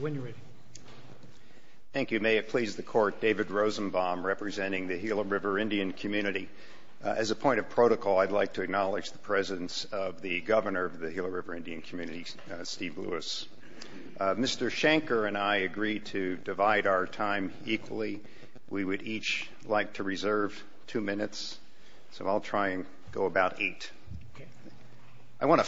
When you're ready. Thank you. May it please the court, David Rosenbaum representing the Gila River Indian Community. As a point of protocol, I'd like to acknowledge the presence of the governor of the Gila River Indian Community, Steve Lewis. Mr. Shanker and I agreed to divide our time equally. We would each like to reserve two minutes, so I'll try and go about eight. I want to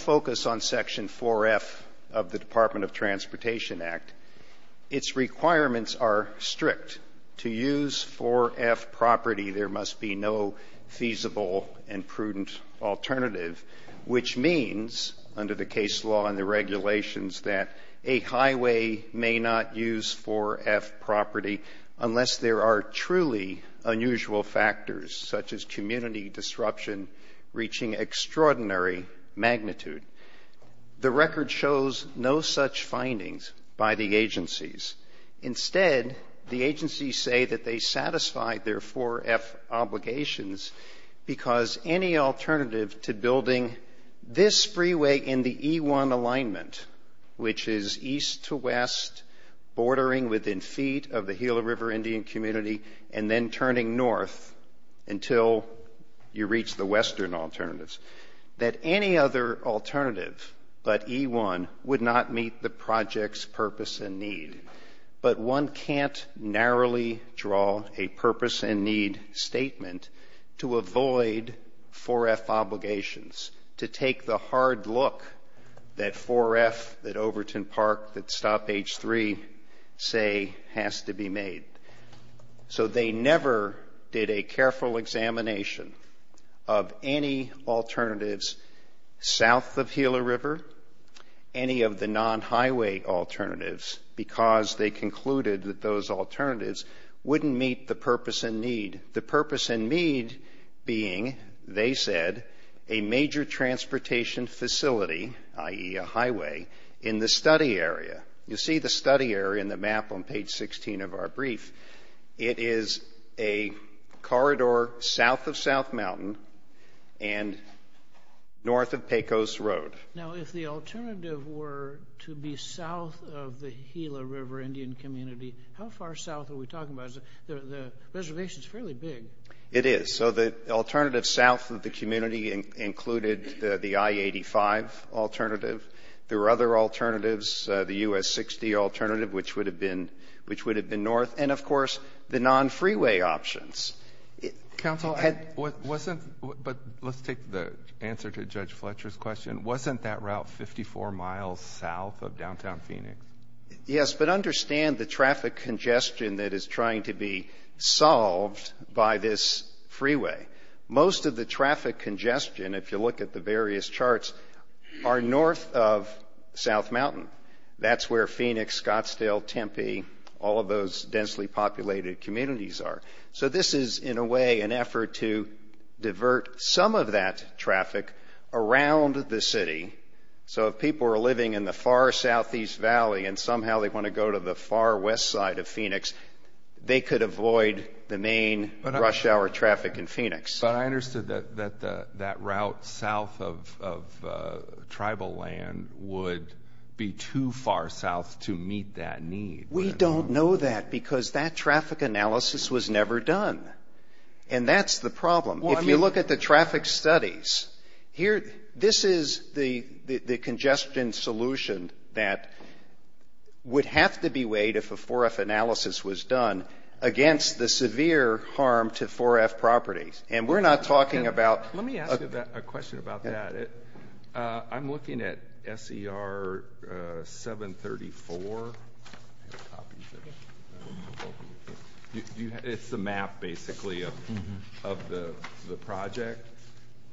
its requirements are strict. To use 4F property, there must be no feasible and prudent alternative, which means under the case law and the regulations that a highway may not use 4F property unless there are truly unusual factors such as community disruption reaching extraordinary magnitude. The record shows no such findings by the agencies. Instead, the agencies say that they satisfy their 4F obligations because any alternative to building this freeway in the E1 alignment, which is east to west, bordering within feet of the Gila River Indian Community, and then turning north until you reach the western alternatives, that any other alternative but E1 would not meet the project's purpose and need. But one can't narrowly draw a purpose and need statement to avoid 4F obligations, to take the hard look that 4F, that Overton Park, that Stop H3 say has to be south of Gila River, any of the non-highway alternatives, because they concluded that those alternatives wouldn't meet the purpose and need. The purpose and need being, they said, a major transportation facility, i.e. a highway, in the study area. You see the study area in the map on page 16 of our North of Pecos Road. Now, if the alternative were to be south of the Gila River Indian Community, how far south are we talking about? The reservation's fairly big. It is. So the alternative south of the community included the I-85 alternative. There were other alternatives, the US-60 alternative, which would have been north. And, of course, the non-freeway options. Counsel, but let's take the answer to Judge Fletcher's question. Wasn't that route 54 miles south of downtown Phoenix? Yes, but understand the traffic congestion that is trying to be solved by this freeway. Most of the traffic congestion, if you look at the various charts, are north of South Mountain. That's where Phoenix, Scottsdale, Tempe, all of those densely populated communities are. So this is, in a way, an effort to divert some of that traffic around the city. So if people are living in the far southeast valley, and somehow they want to go to the far west side of Phoenix, they could avoid the main rush hour traffic in Phoenix. But I understood that that route south of tribal land would be too far south to meet that need. We don't know that, because that traffic analysis was never done. And that's the problem. If you look at the traffic studies, this is the congestion solution that would have to be weighed, if a 4F analysis was done, against the severe harm to 4F properties. And we're not talking about... I'm looking at SCR 734. It's the map, basically, of the project.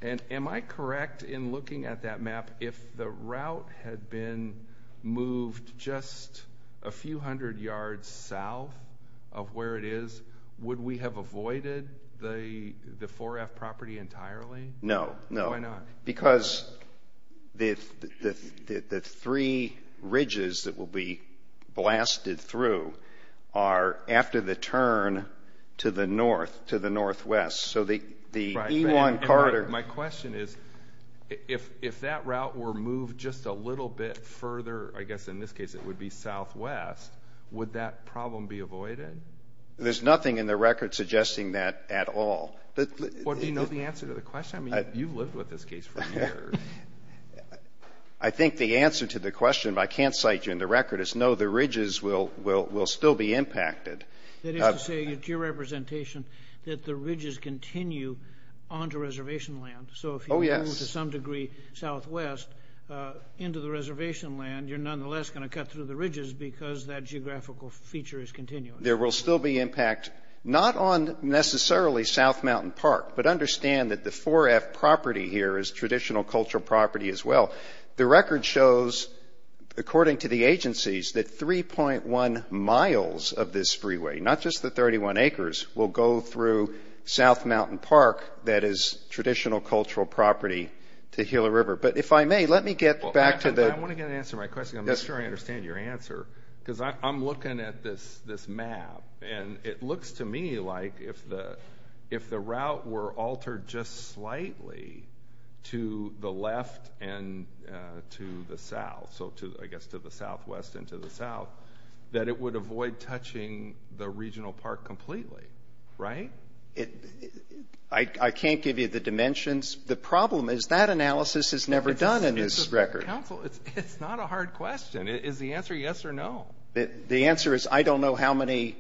And am I correct in looking at that map, if the route had been moved just a few hundred yards south of where it is, would we have avoided the 4F property entirely? No. No. Why not? Because the three ridges that will be blasted through are after the turn to the north, to the northwest. So the E1 corridor... My question is, if that route were moved just a little bit further, I guess in this case it would be southwest, would that problem be avoided? There's nothing in the record suggesting that at all. Do you know the answer to the question? You've lived with this case for years. I think the answer to the question, but I can't cite you in the record, is no, the ridges will still be impacted. That is to say, to your representation, that the ridges continue onto reservation land. So if you move to some degree southwest into the reservation land, you're nonetheless going to cut through the ridges because that geographical feature is continuing. There will still be impact, not on necessarily South Mountain Park, but I understand that the 4F property here is traditional cultural property as well. The record shows, according to the agencies, that 3.1 miles of this freeway, not just the 31 acres, will go through South Mountain Park that is traditional cultural property to Gila River. But if I may, let me get back to the... I want to get an answer to my question. I'm not sure I understand your answer because I'm looking at this map and it altered just slightly to the left and to the south. So I guess to the southwest and to the south, that it would avoid touching the regional park completely, right? I can't give you the dimensions. The problem is that analysis is never done in this record. Council, it's not a hard question. Is the answer yes or no? The answer is I don't know how many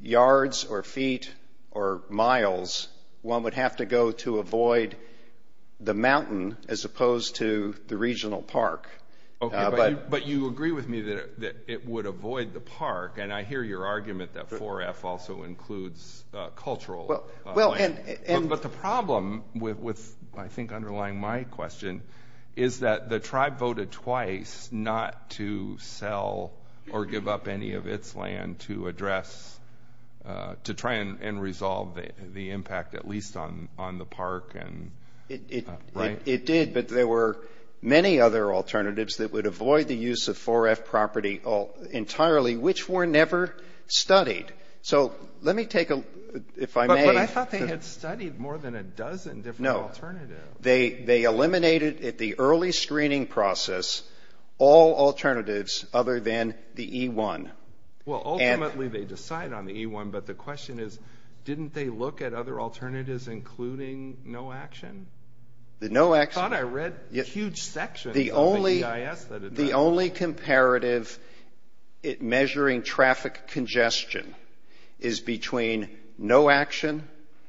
yards or feet or miles one would have to go to avoid the mountain as opposed to the regional park. Okay, but you agree with me that it would avoid the park, and I hear your argument that 4F also includes cultural land. But the problem with, I think, underlying my question is that the tribe voted twice not to sell or give up any of its land to address, to try and resolve the impact, at least on the park, right? It did, but there were many other alternatives that would avoid the use of 4F property entirely, which were never studied. So let me take a... If I may... But I thought they had studied more than a dozen different alternatives. They eliminated at the early screening process all alternatives other than the E-1. Well, ultimately they decide on the E-1, but the question is, didn't they look at other alternatives including no action? The no action... I thought I read a huge section of the EIS that had not... The only comparative measuring traffic congestion is between no action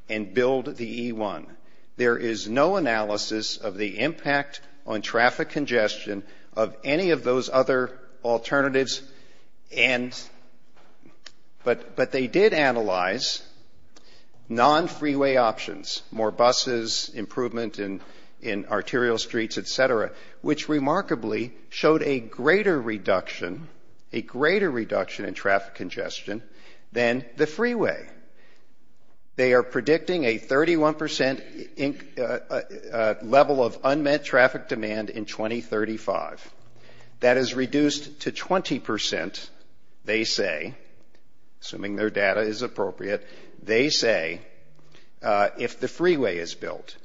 and build the E-1. There is no analysis of the impact on traffic congestion of any of those other alternatives, but they did analyze non-freeway options, more buses, improvement in arterial streets, et cetera, which remarkably showed a greater reduction, a greater reduction in traffic congestion than the freeway. They are predicting a 31% level of unmet traffic demand in 2035. That is reduced to 20%, they say, assuming their data is appropriate, they say, if the freeway is built.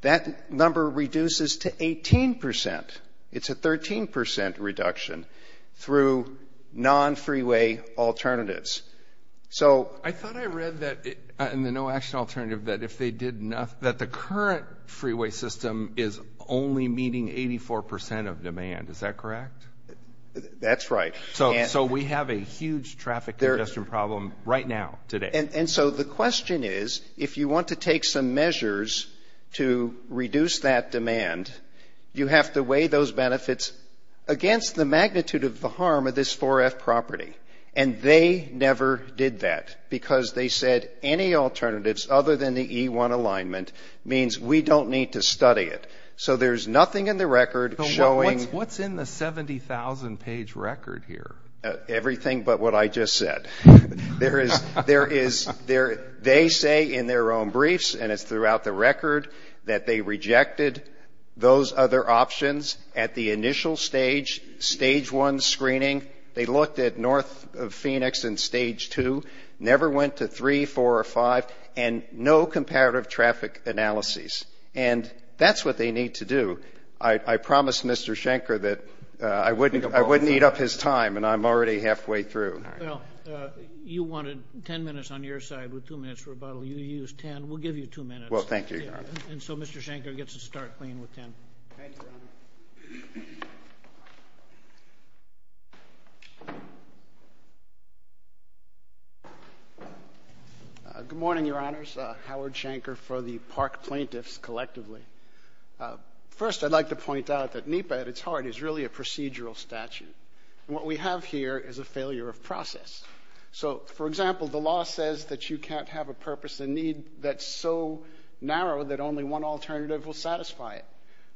That number reduces to 18%. It's a 13% reduction through non-freeway alternatives. So... I thought I read that in the no action alternative that if they did... That the current freeway system is only meeting 84% of demand. Is that correct? That's right. So we have a huge traffic congestion problem right now, today. And so the question is, if you want to take some measures to reduce that demand, you have to weigh those benefits against the magnitude of the harm of this 4F property. And they never did that because they said any alternatives other than the E1 alignment means we don't need to study it. So there's nothing in the record showing... What's in the 70,000 page record here? Everything but what I just said. There is... There is... They say in their own briefs, and it's throughout the record, that they looked at north of Phoenix in stage 2, never went to 3, 4, or 5, and no comparative traffic analyses. And that's what they need to do. I promised Mr. Schenker that I wouldn't eat up his time, and I'm already halfway through. Well, you wanted 10 minutes on your side with two minutes for rebuttal. You used 10. We'll give you two minutes. Well, thank you, Your Honor. Thank you, Your Honor. Good morning, Your Honors. Howard Schenker for the Park Plaintiffs, collectively. First, I'd like to point out that NEPA, at its heart, is really a procedural statute. What we have here is a failure of process. So, for example, the law says that you can't have a purpose and need that's so narrow that only one alternative will satisfy it.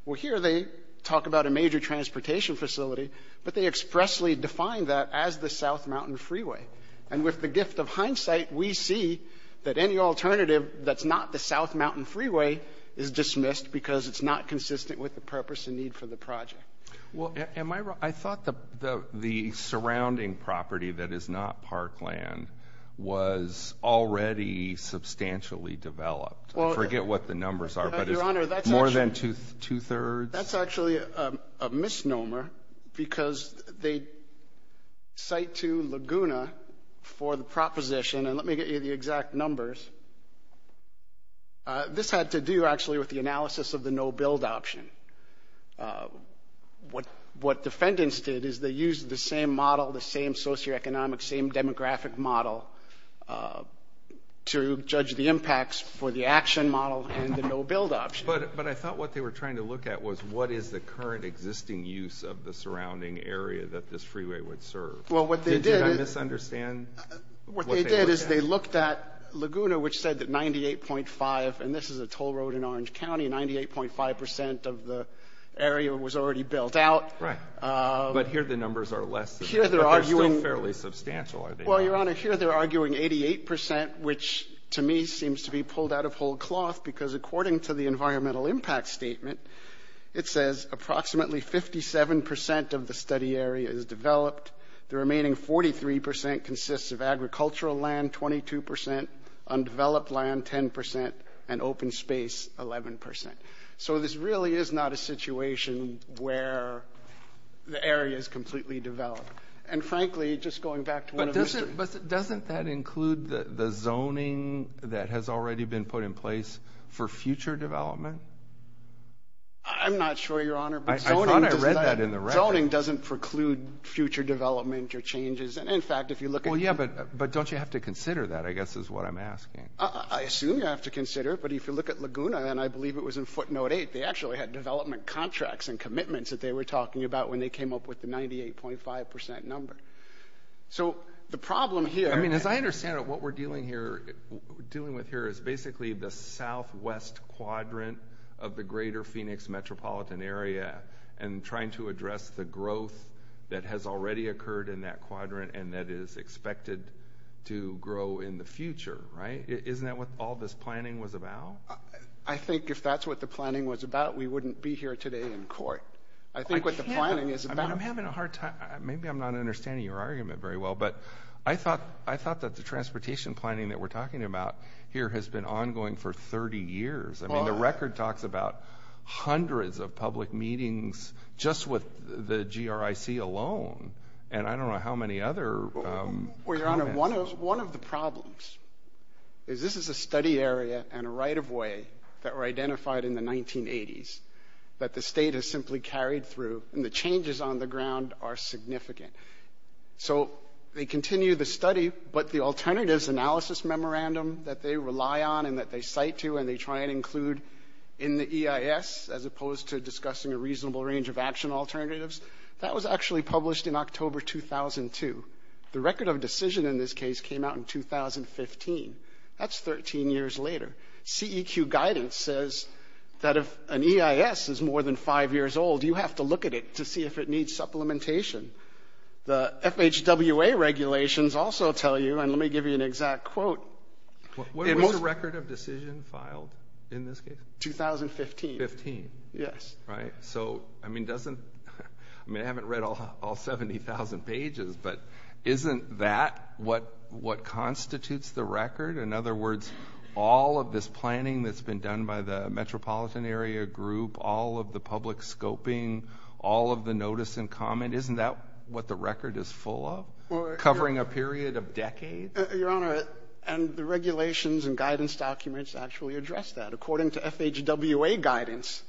Well, here they talk about a major transportation facility, but they expressly define that as the South Mountain Freeway. And with the gift of hindsight, we see that any alternative that's not the South Mountain Freeway is dismissed because it's not consistent with the purpose and need for the project. Well, am I wrong? I thought the surrounding property that is not parkland was already substantially developed. I forget what the numbers are, but it's more than two-thirds? That's actually a misnomer because they cite to Laguna for the proposition, and let me get you the exact numbers. This had to do, actually, with the analysis of the no-build option. What defendants did is they used the same model, the same socioeconomic, same demographic model to judge the impacts for the action model and the no-build option. But I thought what they were trying to look at was what is the current existing use of the surrounding area that this freeway would serve? Well, what they did is they looked at Laguna, which said that 98.5, and this is a toll road in Orange County, 98.5% of the area was already built out. Right, but here the numbers are less than that, but they're still fairly substantial, are they not? Well, Your Honor, here they're arguing 88%, which to me seems to be pulled out of whole cloth because according to the environmental impact statement, it says approximately 57% of the study area is developed. The remaining 43% consists of agricultural land, 22%, undeveloped land, 10%, and open space, 11%. So this really is not a situation where the area is completely developed. And frankly, just going back to one of the- But doesn't that include the zoning that has already been put in place for future development? I'm not sure, Your Honor. I thought I read that in the record. Zoning doesn't preclude future development or changes. And in fact, if you look at- Well, yeah, but don't you have to consider that, I guess is what I'm asking. I assume you have to consider it, but if you look at Laguna, and I believe it was in footnote eight, they actually had development contracts and commitments that they were talking about when they came up with the 98.5% number. So the problem here- I mean, as I understand it, what we're dealing with here is basically the southwest quadrant of the greater Phoenix metropolitan area, and trying to address the growth that has already occurred in that quadrant, and that is expected to grow in the future, right? Isn't that what all this planning was about? I think if that's what the planning was about, we wouldn't be here today in court. I think what the planning is about- I'm having a hard time. Maybe I'm not understanding your argument very well, but I thought that the transportation planning that we're talking about here has been ongoing for 30 years. I mean, the record talks about hundreds of public meetings just with the GRIC alone, and I don't know how many other- Well, Your Honor, one of the problems is this is a study area and a right-of-way that were identified in the 1980s that the state has simply carried through, and the changes on the ground are significant. So they continue the study, but the alternatives analysis memorandum that they rely on and that they cite to, and they try and include in the EIS, as opposed to discussing a reasonable range of action alternatives, that was actually published in October 2002. The record of decision in this case came out in 2015. That's 13 years later. CEQ guidance says that if an EIS is more than five years old, you have to look at it to see if it needs supplementation. The FHWA regulations also tell you, and let me give you an exact quote. What was the record of decision filed in this case? 2015. 15. Yes. Right? So, I mean, doesn't- I mean, I haven't read all 70,000 pages, but isn't that what constitutes the record? In other words, all of this planning that's been done by the metropolitan area group, all of the public scoping, all of the notice and comment, isn't that what the record is full of? Covering a period of decades? Your Honor, and the regulations and guidance documents actually address that. According to FHWA guidance,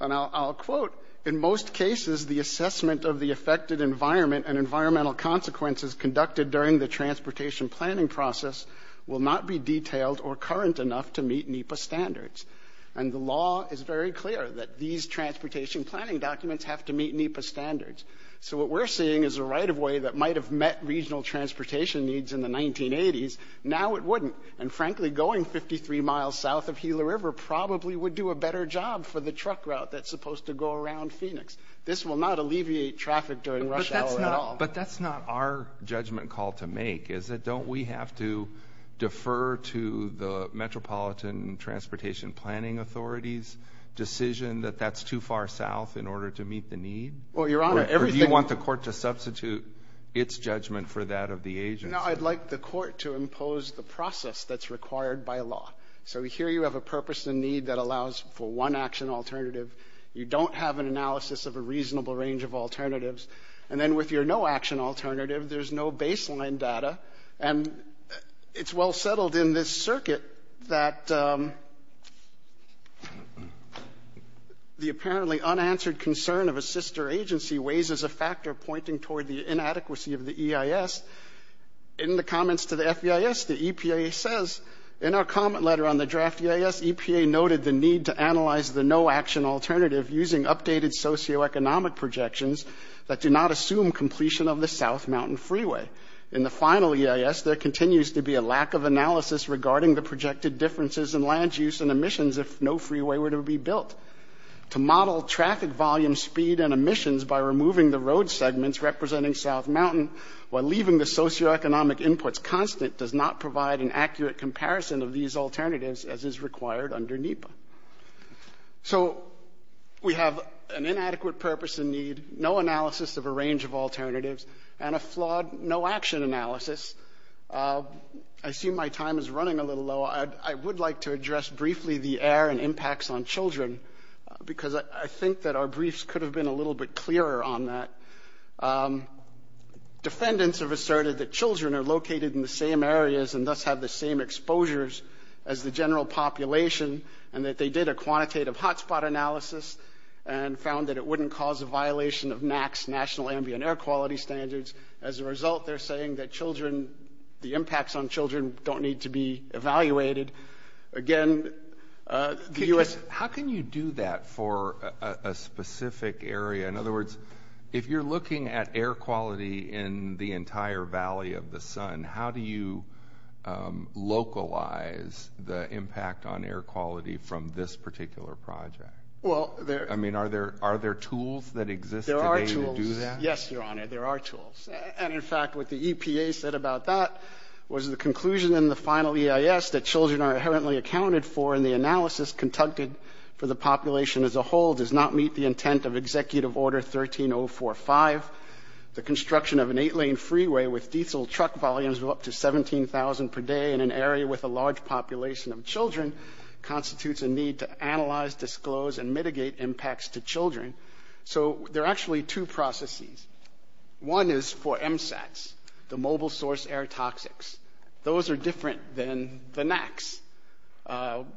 and I'll quote, in most cases, the assessment of the affected environment and environmental consequences conducted during the transportation planning process will not be detailed or current enough to meet NEPA standards. And the law is very clear that these transportation planning documents have to meet NEPA standards. So what we're seeing is a right of way that might have met regional transportation needs in the 1980s, now it wouldn't. And frankly, going 53 miles south of Gila River probably would do a better job for the truck route that's supposed to go around Phoenix. This will not alleviate traffic during rush hour at all. But that's not our judgment call to make, is it? Don't we have to defer to the Metropolitan Transportation Planning Authority's decision that that's too far south in order to meet the need? Well, Your Honor, everything- Or do you want the court to substitute its judgment for that of the agency? No, I'd like the court to impose the process that's required by law. So here you have a purpose and need that allows for one action alternative. You don't have an analysis of a reasonable range of alternatives. And then with your no-action alternative, there's no baseline data. And it's well settled in this circuit that the apparently unanswered concern of a sister agency weighs as a factor pointing toward the inadequacy of the EIS. In the comments to the FEIS, the EPA says, in our comment letter on the draft EIS, EPA noted the need to analyze the no-action alternative using updated socioeconomic projections that do not assume completion of the South Mountain Freeway. In the final EIS, there continues to be a lack of analysis regarding the projected differences in land use and emissions if no freeway were to be built. To model traffic volume, speed, and emissions by removing the road segments representing South Mountain, while leaving the socioeconomic inputs constant, does not provide an accurate comparison of these alternatives as is required under NEPA. So, we have an inadequate purpose and need, no analysis of a range of alternatives, and a flawed no-action analysis. I see my time is running a little low. I would like to address briefly the air and impacts on children, because I think that our briefs could have been a little bit clearer on that. Defendants have asserted that children are located in the same areas and thus have the same exposures as the general population, and that they did a quantitative hotspot analysis and found that it wouldn't cause a violation of NAC's national ambient air quality standards. As a result, they're saying that children, the impacts on children don't need to be evaluated. Again, the US- How can you do that for a specific area? In other words, if you're looking at air quality in the entire valley of the sun, how do you localize the impact on air quality from this particular project? Well, there- I mean, are there tools that exist today to do that? Yes, your honor, there are tools. And in fact, what the EPA said about that was the conclusion in the final EIS that children are inherently accounted for in the analysis conducted for the population as a whole does not meet the intent of executive order 13045. The construction of an eight lane freeway with diesel truck volumes of up to 17,000 per day in an area with a large population of children constitutes a need to analyze, disclose, and mitigate impacts to children. So there are actually two processes. One is for MSATs, the mobile source air toxics. Those are different than the NACs.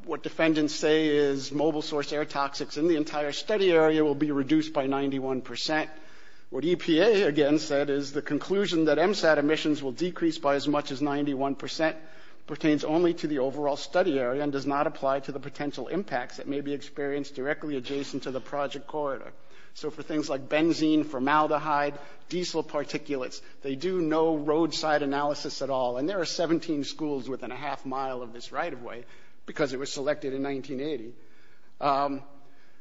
What defendants say is mobile source air toxics in the entire study area will be EPA again said is the conclusion that MSAT emissions will decrease by as much as 91% pertains only to the overall study area and does not apply to the potential impacts that may be experienced directly adjacent to the project corridor. So for things like benzene, formaldehyde, diesel particulates, they do no roadside analysis at all. And there are 17 schools within a half mile of this right of way because it was selected in 1980.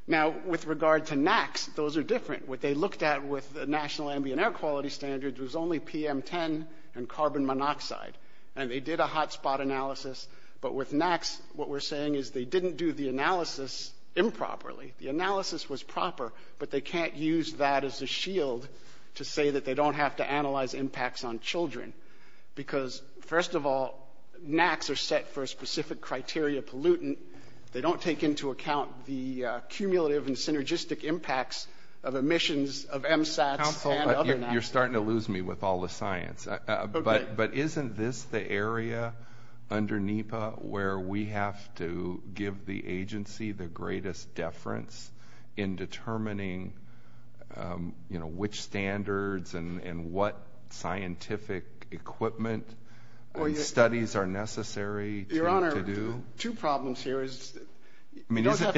Now, with regard to NACs, those are different. What they looked at with the National Ambient Air Quality Standards was only PM10 and carbon monoxide. And they did a hotspot analysis. But with NACs, what we're saying is they didn't do the analysis improperly. The analysis was proper, but they can't use that as a shield to say that they don't have to analyze impacts on children. Because first of all, NACs are set for a specific criteria pollutant. They don't take into account the cumulative and synergistic impacts of emissions of MSATs and other NACs. You're starting to lose me with all the science. But isn't this the area under NEPA where we have to give the agency the greatest deference in determining which standards and what scientific equipment studies are necessary to do? Two problems here is you don't have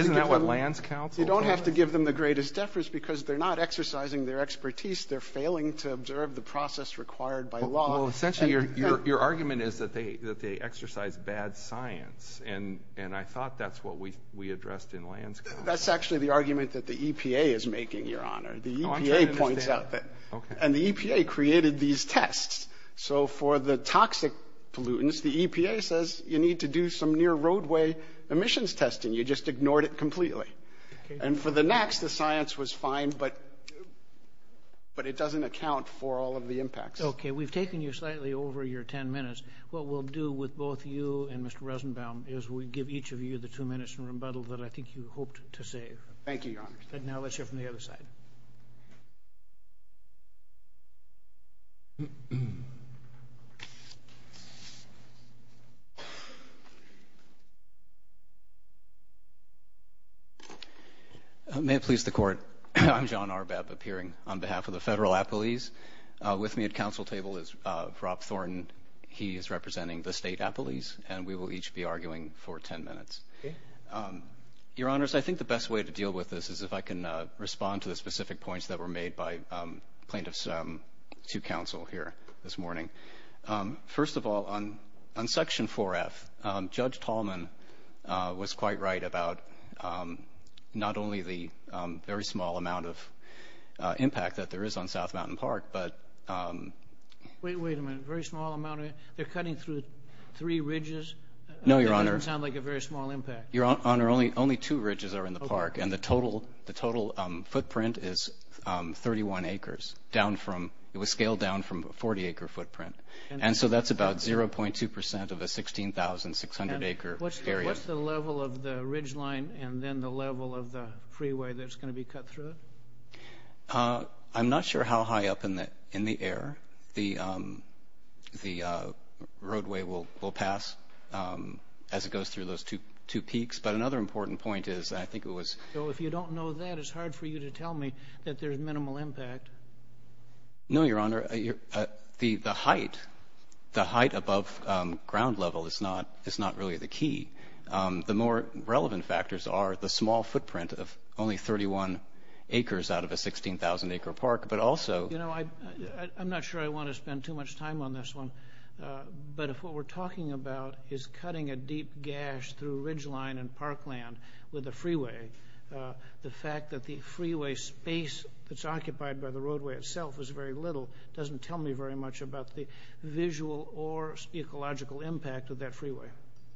to give them the greatest deference because they're not exercising their expertise. They're failing to observe the process required by law. Well, essentially, your argument is that they exercise bad science. And I thought that's what we addressed in Lands Council. That's actually the argument that the EPA is making, Your Honor. The EPA points out that. And the EPA created these tests. So for the toxic pollutants, the EPA says you need to do some near roadway emissions testing. You just ignored it completely. And for the NACs, the science was fine. But it doesn't account for all of the impacts. Okay, we've taken you slightly over your 10 minutes. What we'll do with both you and Mr. Rosenbaum is we give each of you the two minutes in rebuttal that I think you hoped to save. Thank you, Your Honor. And now let's hear from the other side. May it please the court. I'm John Arbab, appearing on behalf of the Federal Appellees. With me at council table is Rob Thornton. He is representing the State Appellees. And we will each be arguing for 10 minutes. Your Honors, I think the best way to deal with this is if I can respond to the First of all, on Section 4F, Judge Tallman was quite right about not only the very small amount of impact that there is on South Mountain Park, but... Wait a minute. Very small amount of... They're cutting through three ridges? No, Your Honor. That doesn't sound like a very small impact. Your Honor, only two ridges are in the park. And the total footprint is 31 acres. It was scaled down from a 40-acre footprint. And so that's about 0.2% of a 16,600-acre area. What's the level of the ridgeline and then the level of the freeway that's going to be cut through it? I'm not sure how high up in the air the roadway will pass as it goes through those two peaks. But another important point is I think it was... So if you don't know that, it's hard for you to tell me that there's minimal impact. No, Your Honor. The height above ground level is not really the key. The more relevant factors are the small footprint of only 31 acres out of a 16,000-acre park, but also... You know, I'm not sure I want to spend too much time on this one. But if what we're talking about is cutting a deep gash through ridgeline and parkland with a freeway, the fact that the freeway space that's occupied by the roadway itself is very little doesn't tell me very much about the visual or ecological impact of that freeway.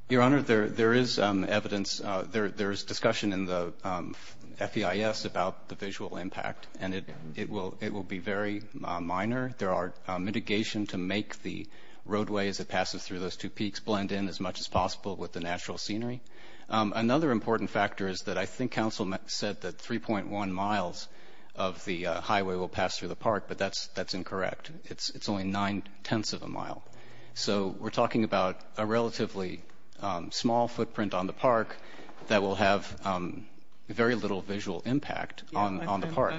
Your Honor, there is evidence... There's discussion in the FEIS about the visual impact, and it will be very minor. There are mitigation to make the roadways that passes through those two peaks blend in as much as possible with the natural scenery. Another important factor is that I think counsel said that 3.1 miles of the highway will pass through the park, but that's incorrect. It's only nine-tenths of a mile. So we're talking about a relatively small footprint on the park that will have very little visual impact on the park.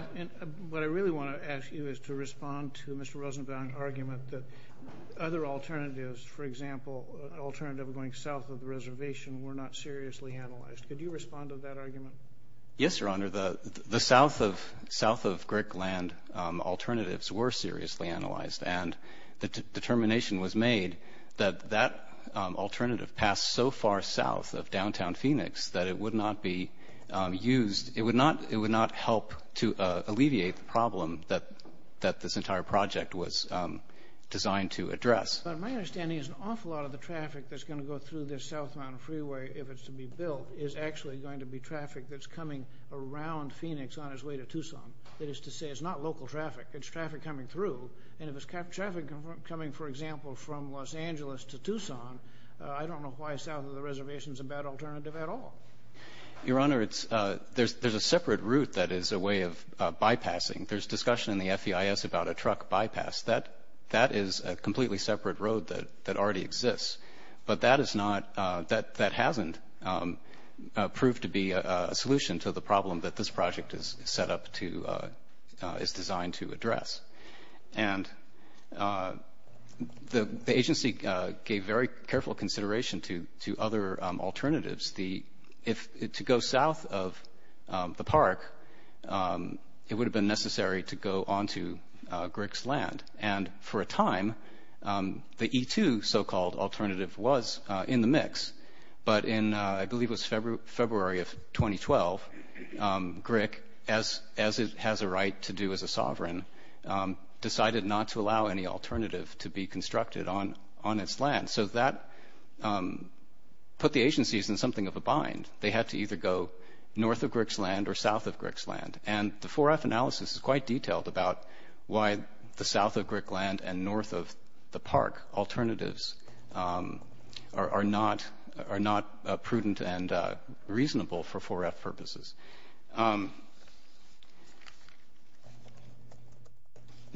What I really want to ask you is to respond to Mr. Rosenbaum's argument that other alternatives, for example, an alternative going south of the reservation were not seriously analyzed. Could you respond to that argument? Yes, Your Honor. The south of Greek land alternatives were seriously analyzed, and the determination was made that that alternative passed so far south of downtown Phoenix that it would not be used. It would not help to alleviate the problem that this entire project was designed to address. My understanding is an awful lot of the traffic that's going to go through this southbound freeway, if it's to be built, is actually going to be traffic that's coming around Phoenix on its way to Tucson. That is to say, it's not local traffic. It's traffic coming through. And if it's traffic coming, for example, from Los Angeles to Tucson, I don't know why south of the reservation is a bad alternative at all. Your Honor, there's a separate route that is a way of bypassing. There's discussion in the FEIS about a truck bypass. That is a completely separate road that already exists. But that hasn't proved to be a solution to the problem that this project is designed to address. The agency gave very careful consideration to other alternatives. If to go south of the park, it would have been necessary to go onto Grick's land. And for a time, the E2 so-called alternative was in the mix. But in, I believe it was February of 2012, Grick, as it has a right to do as a sovereign, decided not to allow any alternative to be constructed on its land. So that put the agencies in something of a bind. They had to either go north of Grick's land or south of Grick's land. And the 4F analysis is quite detailed about why the south of Grick land and north of the park alternatives are not prudent and reasonable for 4F purposes.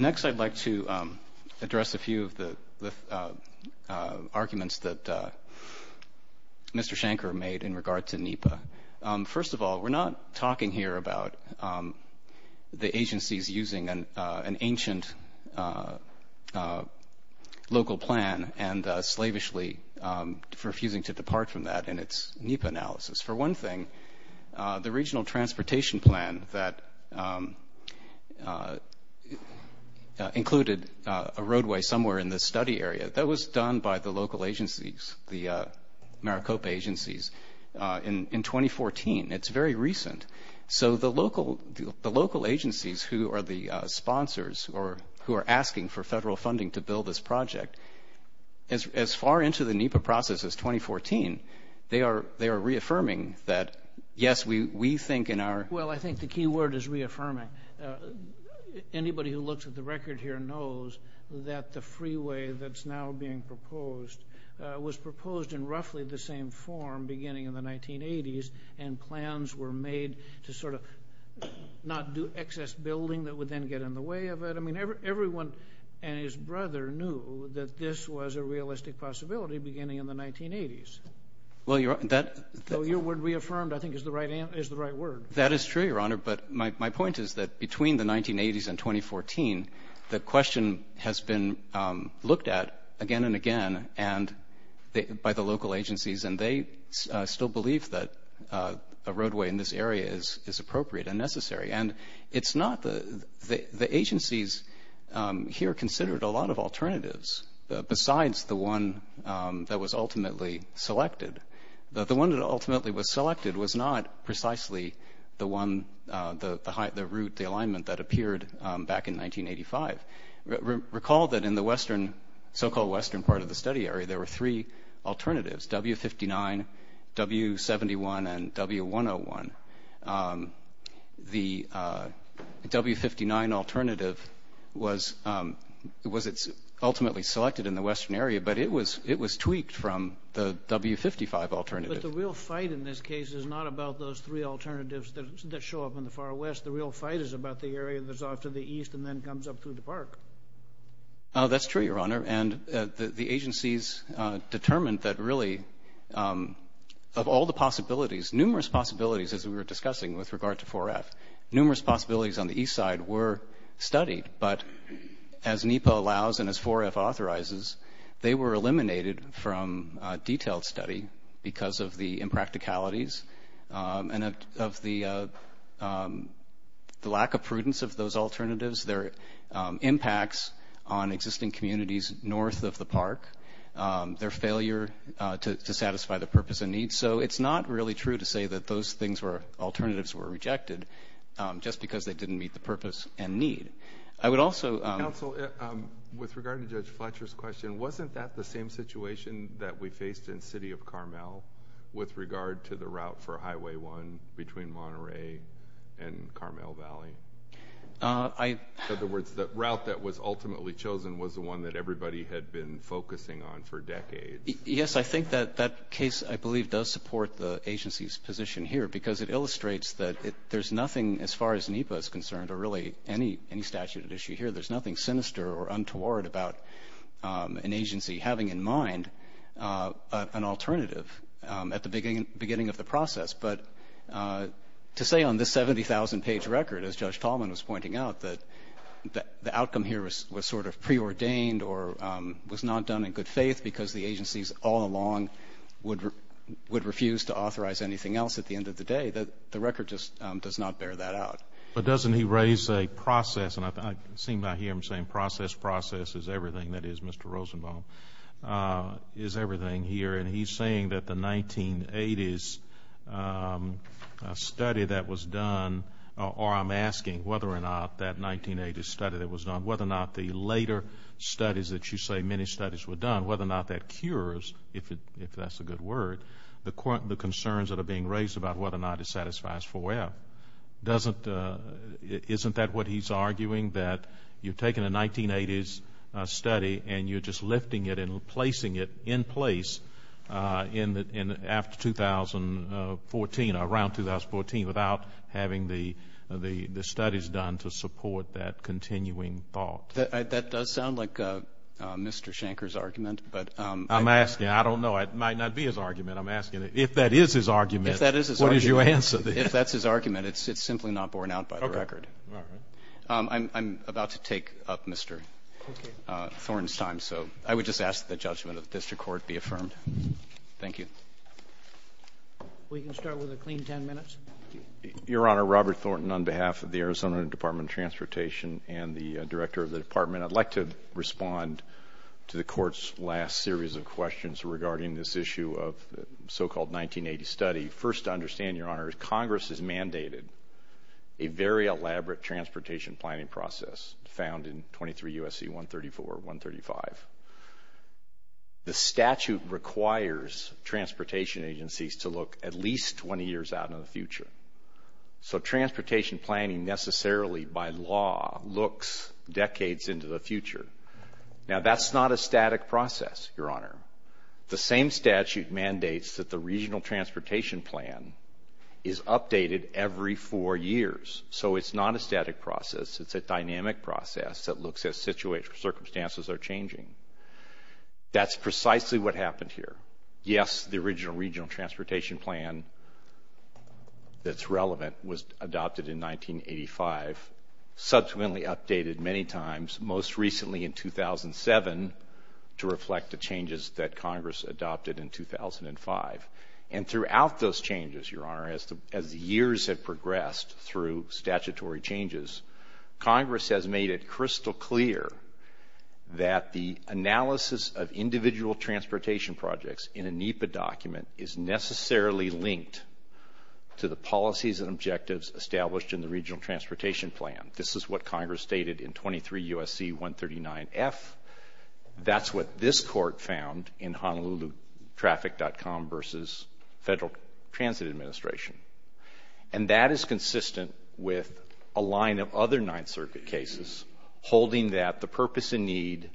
Next, I'd like to address a few of the arguments that Mr. Shanker made in regard to NEPA. First of all, we're not talking here about the agencies using an ancient local plan and slavishly refusing to depart from that in its NEPA analysis. For one thing, the regional transportation plan that included a roadway somewhere in the study area, that was done by the local agencies, the Maricopa agencies in 2014. It's very recent. So the local agencies who are the sponsors or who are asking for federal funding to build this project, as far into the NEPA process as 2014, they are reaffirming that, yes, we think in our... Well, I think the key word is reaffirming. Anybody who looks at the record here knows that the freeway that's now being proposed was proposed in roughly the same form beginning in the 1980s, and plans were made to sort of not do excess building that would then get in the way of it. I mean, everyone and his brother knew that this was a realistic possibility beginning in the 1980s. Though your word reaffirmed, I think, is the right word. That is true, Your Honor. But my point is that between the 1980s and 2014, the question has been looked at again and again by the local agencies, and they still believe that a roadway in this area is appropriate and necessary. And it's not the... The agencies here considered a lot of alternatives besides the one that was ultimately selected. The one that ultimately was selected was not precisely the one, the route, the alignment that appeared back in 1985. Recall that in the so-called western part of the study area, there were three alternatives, W59, W71, and W101. The W59 alternative was ultimately selected in the western area, but it was tweaked from the W55 alternative. But the real fight in this case is not about those three alternatives that show up in the far west. The real fight is about the area that's off to the east and then comes up through the park. Oh, that's true, Your Honor. And the agencies determined that really of all the possibilities, numerous possibilities as we were discussing with regard to 4F. Numerous possibilities on the east side were studied, but as NEPA allows and as 4F authorizes, they were eliminated from detailed study because of the impracticalities and of the lack of prudence of those alternatives, their impacts on existing communities north of the park, their failure to satisfy the purpose and needs. And so it's not really true to say that those things were alternatives were rejected just because they didn't meet the purpose and need. I would also- Counsel, with regard to Judge Fletcher's question, wasn't that the same situation that we faced in City of Carmel with regard to the route for Highway 1 between Monterey and Carmel Valley? In other words, the route that was ultimately chosen was the one that everybody had been focusing on for decades. Yes, I think that that case, I believe, does support the agency's position here because it illustrates that there's nothing as far as NEPA is concerned or really any statute at issue here, there's nothing sinister or untoward about an agency having in mind an alternative at the beginning of the process. But to say on this 70,000 page record, as Judge Tallman was pointing out, that the outcome here was sort of preordained or was not done in good faith because the agencies all along would refuse to authorize anything else at the end of the day, the record just does not bear that out. But doesn't he raise a process, and I seem to hear him saying process, process is everything that is Mr. Rosenbaum, is everything here, and he's saying that the 1980s study that I'm asking whether or not that 1980s study that was done, whether or not the later studies that you say many studies were done, whether or not that cures, if that's a good word, the concerns that are being raised about whether or not it satisfies FOIA, isn't that what he's arguing, that you've taken a 1980s study and you're just lifting it and placing it in place after 2014, around 2014, without having the studies done to support that continuing thought? That does sound like Mr. Shanker's argument, but I'm asking, I don't know, it might not be his argument, I'm asking if that is his argument, what is your answer? If that's his argument, it's simply not borne out by the record. I'm about to take up Mr. Thornton's time, so I would just ask that the judgment of the District Court be affirmed. Thank you. We can start with a clean ten minutes. Your Honor, Robert Thornton on behalf of the Arizona Department of Transportation and the Director of the Department, I'd like to respond to the Court's last series of questions regarding this issue of the so-called 1980s study. First to understand, Your Honor, Congress has mandated a very elaborate transportation planning process found in 23 U.S.C. 134, 135. The statute requires transportation agencies to look at least 20 years out in the future, so transportation planning necessarily by law looks decades into the future. Now that's not a static process, Your Honor. The same statute mandates that the regional transportation plan is updated every four years, so it's not a static process. It's a dynamic process that looks as circumstances are changing. That's precisely what happened here. Yes, the original regional transportation plan that's relevant was adopted in 1985, subsequently updated many times, most recently in 2007 to reflect the changes that Congress adopted in 2005. And throughout those changes, Your Honor, as the years have progressed through statutory changes, Congress has made it crystal clear that the analysis of individual transportation projects in a NEPA document is necessarily linked to the policies and objectives established in the regional transportation plan. This is what Congress stated in 23 U.S.C. 139F. That's what this court found in HonoluluTraffic.com versus Federal Transit Administration. And that is consistent with a line of other Ninth Circuit cases holding that the purpose and need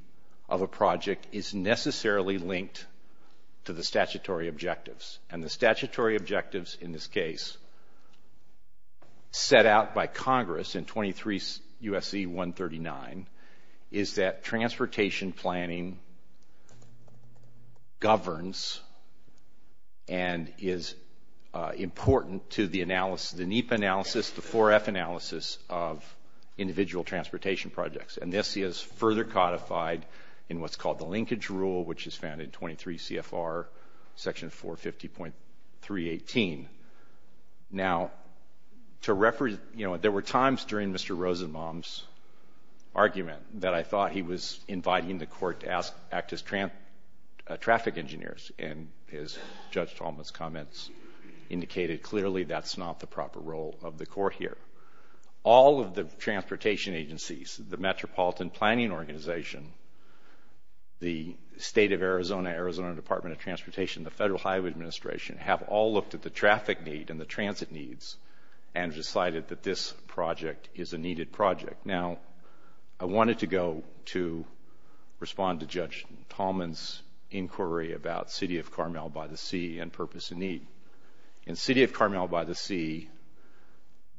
of a project is necessarily linked to the statutory objectives. And the statutory objectives in this case set out by Congress in 23 U.S.C. 139 is that transportation planning governs and is important to the NEPA analysis, the 4F analysis of individual transportation projects. And this is further codified in what's called the linkage rule, which is found in 23 CFR section 450.318. Now to reference, you know, there were times during Mr. Rosenbaum's argument that I thought he was inviting the court to act as traffic engineers. And Judge Talmadge's comments indicated clearly that's not the proper role of the court here. All of the transportation agencies, the Metropolitan Planning Organization, the State of Arizona, the Department of Transportation, the Federal Highway Administration have all looked at the traffic need and the transit needs and decided that this project is a needed project. Now, I wanted to go to respond to Judge Talmadge's inquiry about City of Carmel-by-the-Sea and purpose and need. In City of Carmel-by-the-Sea,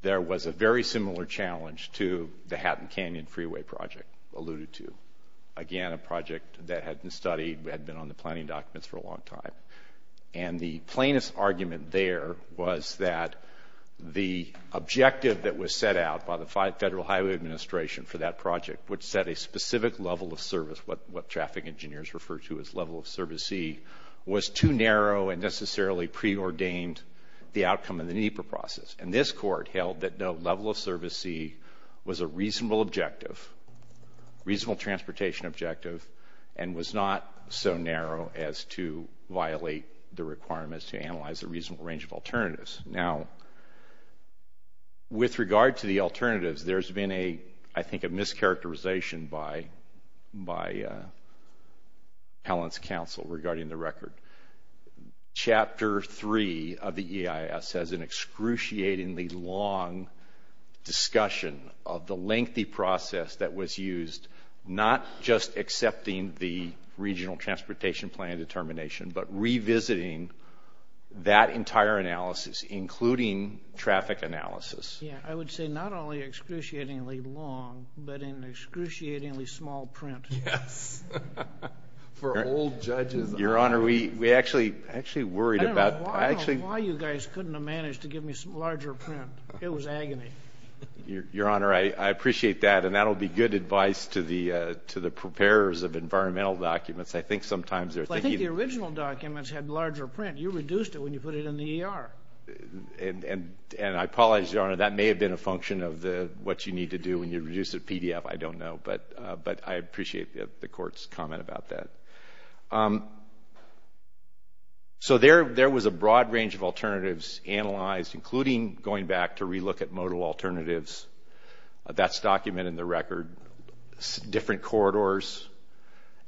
there was a very similar challenge to the Hatton Canyon Freeway Project alluded to. Again, a project that had been studied, had been on the planning documents for a long time. And the plainest argument there was that the objective that was set out by the Federal Highway Administration for that project, which set a specific level of service, what traffic engineers refer to as level of service C, was too narrow and necessarily preordained the outcome of the NEPA process. And this court held that no level of service C was a reasonable objective, reasonable transportation objective, and was not so narrow as to violate the requirements to analyze a reasonable range of alternatives. Now, with regard to the alternatives, there's been a, I think, a mischaracterization by the Appellant's Counsel regarding the record. Chapter 3 of the EIS has an excruciatingly long discussion of the lengthy process that was used, not just accepting the regional transportation plan determination, but revisiting that entire analysis, including traffic analysis. I would say not only excruciatingly long, but an excruciatingly small print. For old judges. Your Honor, we actually worried about... I don't know why you guys couldn't have managed to give me some larger print. It was agony. Your Honor, I appreciate that, and that'll be good advice to the preparers of environmental documents. I think sometimes they're thinking... I think the original documents had larger print. You reduced it when you put it in the ER. And I apologize, Your Honor, that may have been a function of what you need to do when you reduce a PDF. I don't know. But I appreciate the Court's comment about that. So there was a broad range of alternatives analyzed, including going back to re-look at modal alternatives. That's documented in the record. Different corridors,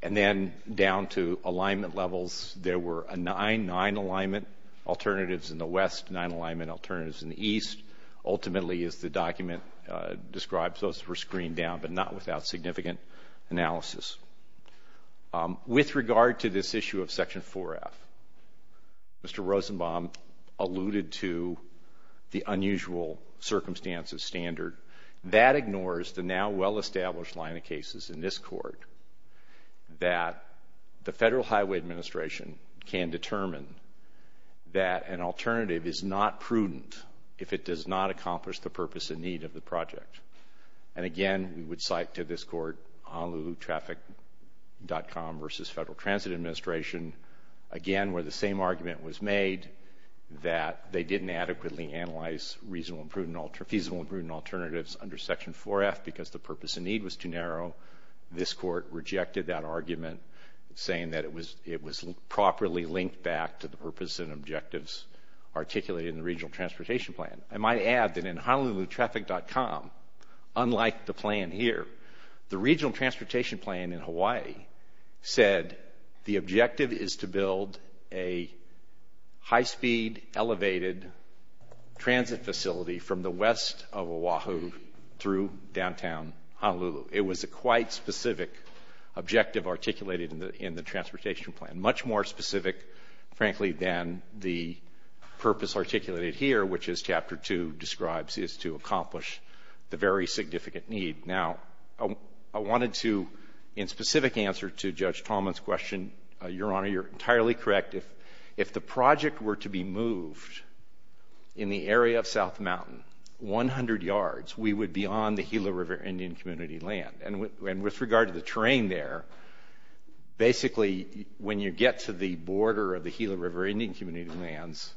and then down to alignment levels. There were nine alignment alternatives in the west, nine alignment alternatives in the east. Ultimately, as the document describes, those were screened down, but not without significant analysis. With regard to this issue of Section 4F, Mr. Rosenbaum alluded to the unusual circumstances standard. That ignores the now well-established line of cases in this Court that the Federal Highway Administration can determine that an alternative is not prudent if it does not accomplish the purpose and need of the project. And again, we would cite to this Court, Honolulu Traffic.com v. Federal Transit Administration, again where the same argument was made that they didn't adequately analyze reasonable and prudent alternatives under Section 4F because the purpose and need was too narrow. This Court rejected that argument, saying that it was properly linked back to the purpose and objectives articulated in the Regional Transportation Plan. I might add that in Honolulu Traffic.com, unlike the plan here, the Regional Transportation Plan in Hawaii said the objective is to build a high-speed, elevated transit facility from the west of Oahu through downtown Honolulu. It was a quite specific objective articulated in the Transportation Plan. Much more specific, frankly, than the purpose articulated here, which as Chapter 2 describes is to accomplish the very significant need. Now, I wanted to, in specific answer to Judge Tallman's question, Your Honor, you're entirely correct. If the project were to be moved in the area of South Mountain 100 yards, we would be on the Gila River Indian Community land. And with regard to the terrain there, basically when you get to the border of the Gila River Indian Community lands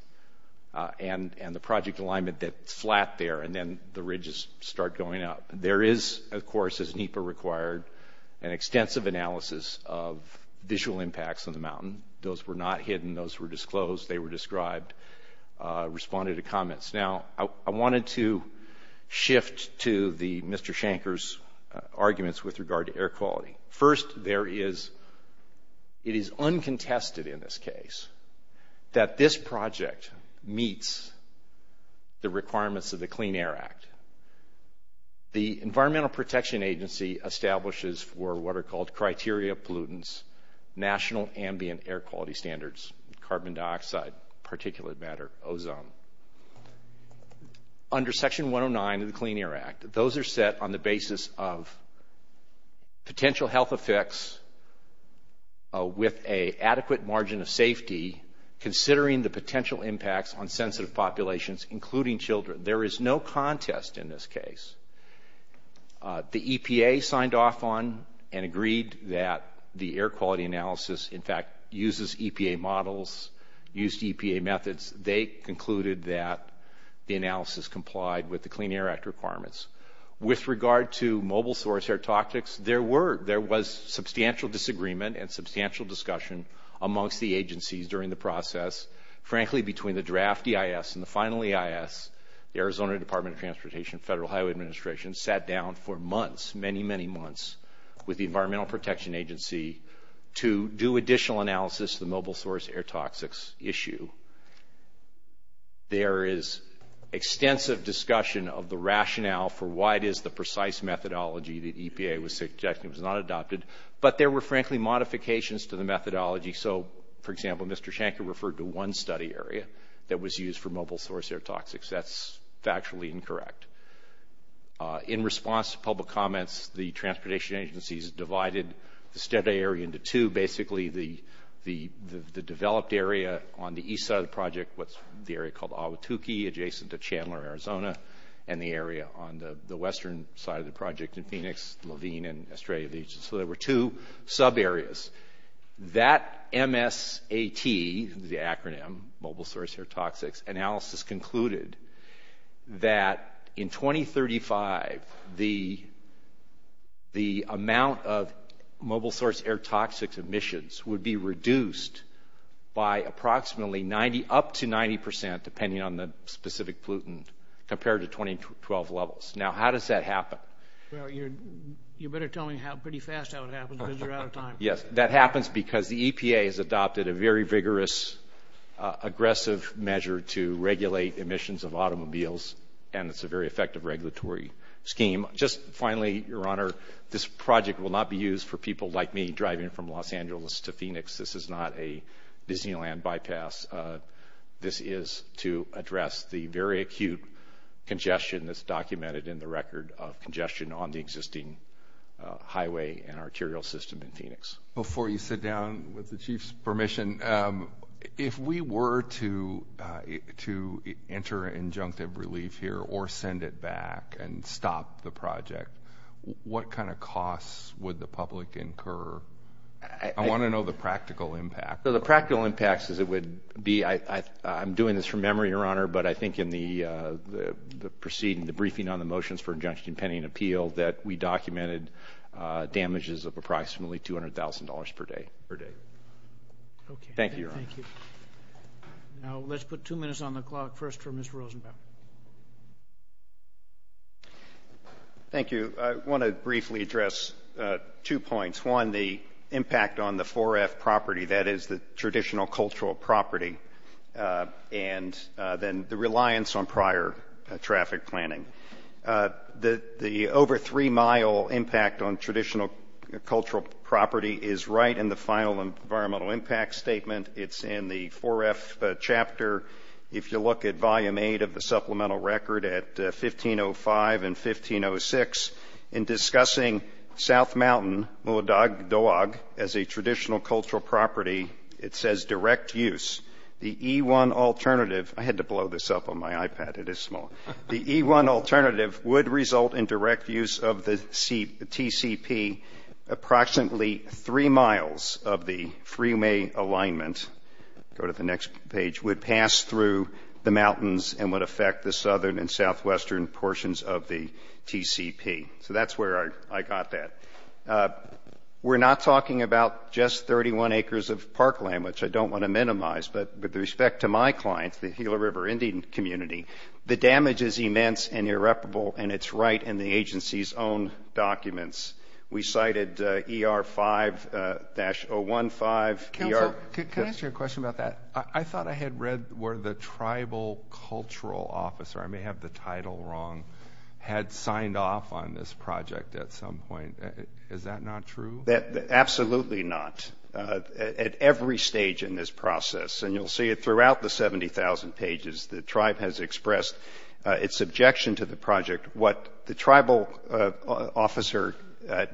and the project alignment that's flat there and then the ridges start going up, there is, of course, as NEPA required, an extensive analysis of visual impacts on the mountain. Those were not hidden. Those were disclosed. They were described, responded to comments. Now, I wanted to shift to Mr. Shanker's arguments with regard to air quality. First, there is, it is uncontested in this case that this project meets the requirements of the Clean Air Act. The Environmental Protection Agency establishes for what are called criteria pollutants national ambient air quality standards, carbon dioxide, particulate matter, ozone. Under Section 109 of the Clean Air Act, those are set on the basis of potential health effects with an adequate margin of safety considering the potential impacts on sensitive populations, including children. There is no contest in this case. The EPA signed off on and agreed that the air quality analysis, in fact, uses EPA models, used EPA methods. They concluded that the analysis complied with the Clean Air Act requirements. With regard to mobile source air tactics, there were, there was substantial disagreement and substantial discussion amongst the agencies during the process, frankly, between the draft EIS and the final EIS, the Arizona Department of Transportation Federal Highway Administration, sat down for months, many, many months, with the Environmental Protection Agency to do additional analysis of the mobile source air toxics issue. There is extensive discussion of the rationale for why it is the precise methodology that EPA was suggesting was not adopted, but there were, frankly, modifications to the methodology. So, for example, Mr. Shanker referred to one study area that was used for mobile source air toxics. That's factually incorrect. In response to public comments, the transportation agencies divided the study area into two. Basically, the developed area on the east side of the project, what's the area called Ahwatukee, adjacent to Chandler, Arizona, and the area on the western side of the project in Phoenix, Levine, and Australia, so there were two sub-areas. That MSAT, the acronym Mobile Source Air Toxics, analysis concluded that in 2035, the amount of mobile source air toxics emissions would be reduced by approximately 90, up to 90 percent, depending on the specific pollutant, compared to 2012 levels. Now, how does that happen? Well, you better tell me pretty fast how it happens, because you're out of time. Yes, that happens because the EPA has adopted a very vigorous, aggressive measure to regulate emissions of automobiles, and it's a very effective regulatory scheme. Just finally, Your Honor, this project will not be used for people like me driving from Los Angeles to Phoenix. This is not a Disneyland bypass. This is to address the very acute congestion that's documented in the record of congestion on the existing highway and arterial system in Phoenix. Before you sit down, with the Chief's permission, if we were to enter injunctive relief here, or send it back and stop the project, what kind of costs would the public incur? I want to know the practical impact. The practical impact would be, I'm doing this from memory, Your Honor, but I think in the briefing on the Motions for Injunction, Penny, and Appeal, that we documented damages of approximately $200,000 per day. Thank you, Your Honor. Thank you. Now, let's put two minutes on the clock, first for Mr. Rosenbaum. Thank you. I want to briefly address two points. One, the impact on the 4F property, that is the traditional cultural property, and then the reliance on prior traffic planning. The over three-mile impact on traditional cultural property is right in the final environmental impact statement. It's in the 4F chapter. If you look at Volume 8 of the Supplemental Record at 1505 and 1506, in discussing South Mountain, Mooladag Dawag, as a traditional cultural property, it says, direct use. The E-1 alternative, I had to blow this up on my iPad, it is small, the E-1 alternative would result in direct use of the TCP. Approximately three miles of the Freemay alignment, go to the next page, would pass through the mountains and would affect the southern and southwestern portions of the TCP. That's where I got that. We're not talking about just 31 acres of park land, which I don't want to minimize, but with respect to my clients, the Gila River Indian Community, the damage is immense and irreparable and it's right in the agency's own documents. We cited ER5-015. Council, can I ask you a question about that? I thought I had read where the tribal cultural officer, I may have the title wrong, had signed off on this project at some point. Is that not true? Absolutely not. At every stage in this process, and you'll see it throughout the 70,000 pages, the tribe has expressed its objection to the project. What the tribal officer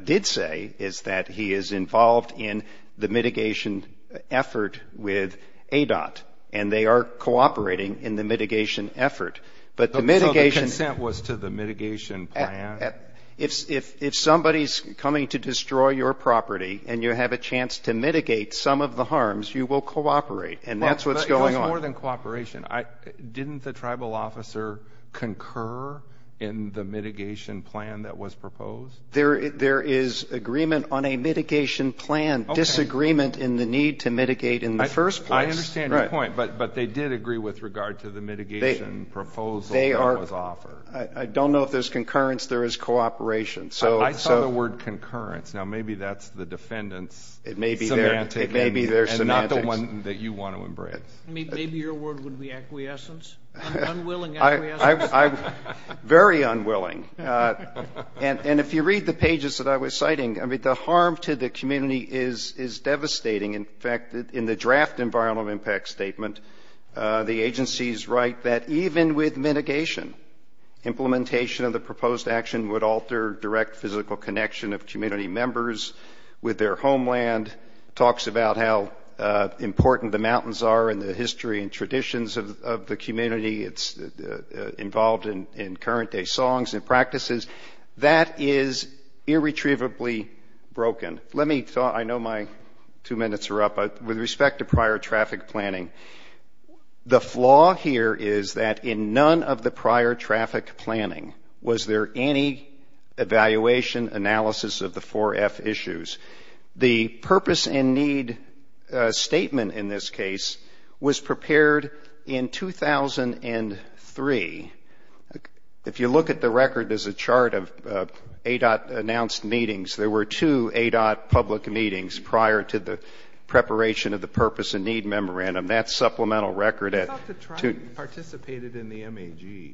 did say is that he is involved in the mitigation effort with ADOT, and they are cooperating in the mitigation effort. But the mitigation- So the consent was to the mitigation plan? If somebody's coming to destroy your property and you have a chance to mitigate some of the harms, you will cooperate. And that's what's going on. If it was more than cooperation, didn't the tribal officer concur in the mitigation plan that was proposed? There is agreement on a mitigation plan, disagreement in the need to mitigate in the first place. I understand your point, but they did agree with regard to the mitigation proposal that was offered. I don't know if there's concurrence. There is cooperation. I saw the word concurrence. Now maybe that's the defendant's semantics and not the one that you want to embrace. Maybe your word would be acquiescence, unwilling acquiescence. Very unwilling. And if you read the pages that I was citing, the harm to the community is devastating. In fact, in the draft environmental impact statement, the agencies write that even with mitigation, implementation of the proposed action would alter direct physical connection of community members with their homeland. Talks about how important the mountains are in the history and traditions of the community. It's involved in current day songs and practices. That is irretrievably broken. Let me talk, I know my two minutes are up, with respect to prior traffic planning. The flaw here is that in none of the prior traffic planning was there any evaluation analysis of the 4F issues. The purpose and need statement in this case was prepared in 2003. If you look at the record, there's a chart of ADOT announced meetings. There were two ADOT public meetings prior to the preparation of the purpose and need memorandum. That's supplemental record. I thought the tribe participated in the MAG.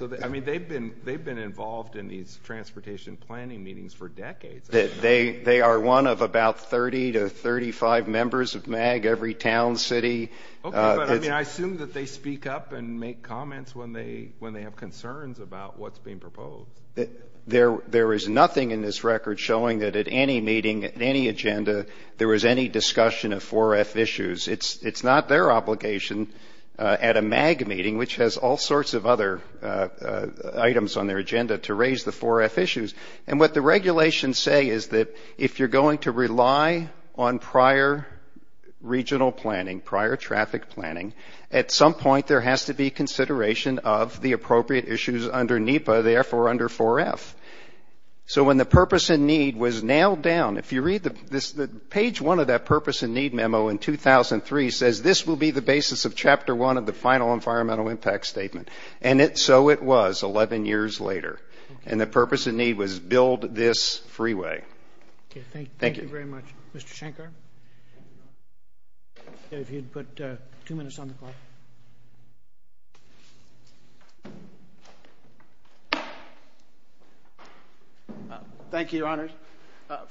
They've been involved in these transportation planning meetings for decades. They are one of about 30 to 35 members of MAG, every town, city. Okay, but I assume that they speak up and make comments when they have concerns about what's being proposed. There is nothing in this record showing that at any meeting, at any agenda, there was any discussion of 4F issues. It's not their obligation at a MAG meeting, which has all sorts of other items on their agenda to raise the 4F issues. What the regulations say is that if you're going to rely on prior regional planning, prior traffic planning, at some point there has to be consideration of the appropriate issues under NEPA, therefore under 4F. So when the purpose and need was nailed down, if you read this, page one of that purpose and need memo in 2003 says, this will be the basis of chapter one of the final environmental impact statement. And so it was 11 years later. And the purpose and need was build this freeway. Thank you. Thank you very much. Mr. Shankar? If you'd put two minutes on the clock. Thank you, Your Honors.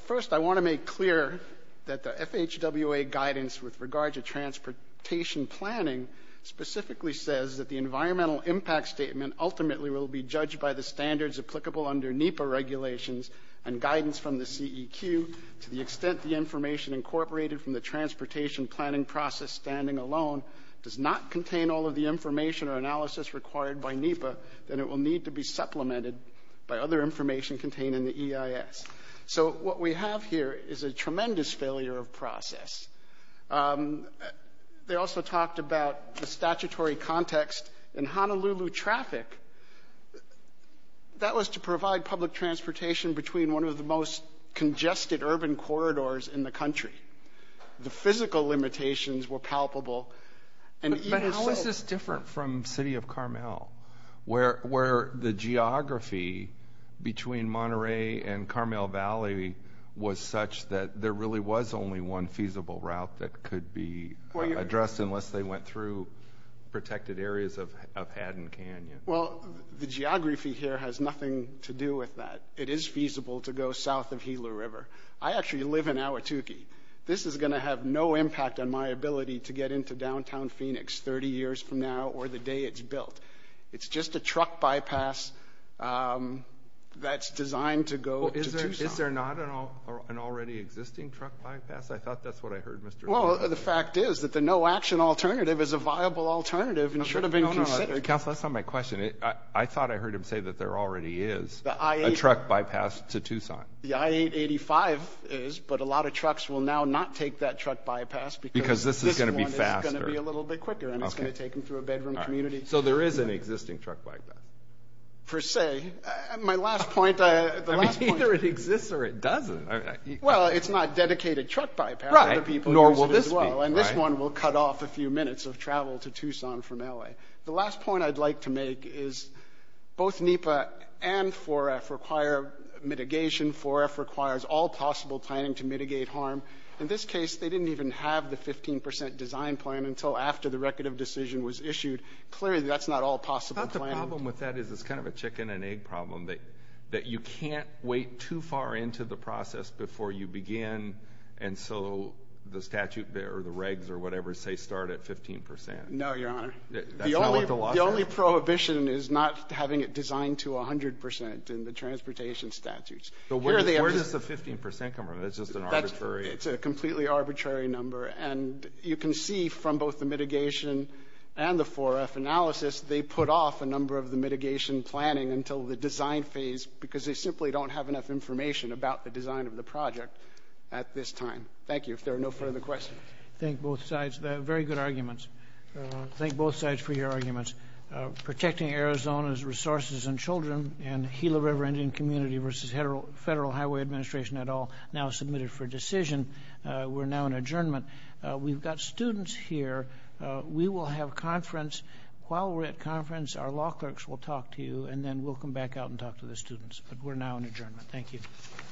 First, I want to make clear that the FHWA guidance with regard to transportation planning specifically says that the environmental impact statement ultimately will be judged by the standards applicable under NEPA regulations and guidance from the CEQ to the extent the information incorporated from the transportation planning process standing alone does not contain all of the information or analysis required by NEPA, then it will need to be supplemented by other information contained in the EIS. So what we have here is a tremendous failure of process. They also talked about the statutory context in Honolulu traffic. That was to provide public transportation between one of the most congested urban corridors in the country. The physical limitations were palpable and even so... But how is this different from the city of Carmel? Where the geography between Monterey and Carmel Valley was such that there really was only one feasible route that could be addressed unless they went through protected areas of Haddon Canyon. Well, the geography here has nothing to do with that. It is feasible to go south of Gila River. I actually live in Ahwatukee. This is going to have no impact on my ability to get into downtown Phoenix 30 years from now or the day it's built. It's just a truck bypass that's designed to go to Tucson. Is there not an already existing truck bypass? I thought that's what I heard Mr. Well, the fact is that the no-action alternative is a viable alternative and should have been considered. No, no, no. Counselor, that's not my question. I thought I heard him say that there already is a truck bypass to Tucson. The I-885 is, but a lot of trucks will now not take that truck bypass because this one is going to be a little bit quicker and it's going to take them through a bedroom community. So there is an existing truck bypass? Per se. My last point, the last point... I mean, either it exists or it doesn't. Well, it's not a dedicated truck bypass for the people who use it as well and this one will cut off a few minutes of travel to Tucson from L.A. The last point I'd like to make is both NEPA and 4F require mitigation. 4F requires all possible planning to mitigate harm. In this case, they didn't even have the 15% design plan until after the record of decision was issued. Clearly, that's not all possible planning. I thought the problem with that is it's kind of a chicken and egg problem that you can't wait too far into the process before you begin and so the statute or the regs or whatever say start at 15%. No, Your Honor. That's not what the law says? The only prohibition is not having it designed to 100% in the transportation statutes. So where does the 15% come from? It's just an arbitrary... It's a completely arbitrary number and you can see from both the mitigation and the 4F analysis, they put off a number of the mitigation planning until the design phase because they simply don't have enough information about the design of the project at this time. Thank you. If there are no further questions. I thank both sides. Very good arguments. Thank both sides for your arguments. Protecting Arizona's resources and children and Gila River Indian Community versus Federal Highway Administration et al. now submitted for decision. We're now in adjournment. We've got students here. We will have conference. While we're at conference, our law clerks will talk to you and then we'll come back out and talk to the students. But we're now in adjournment.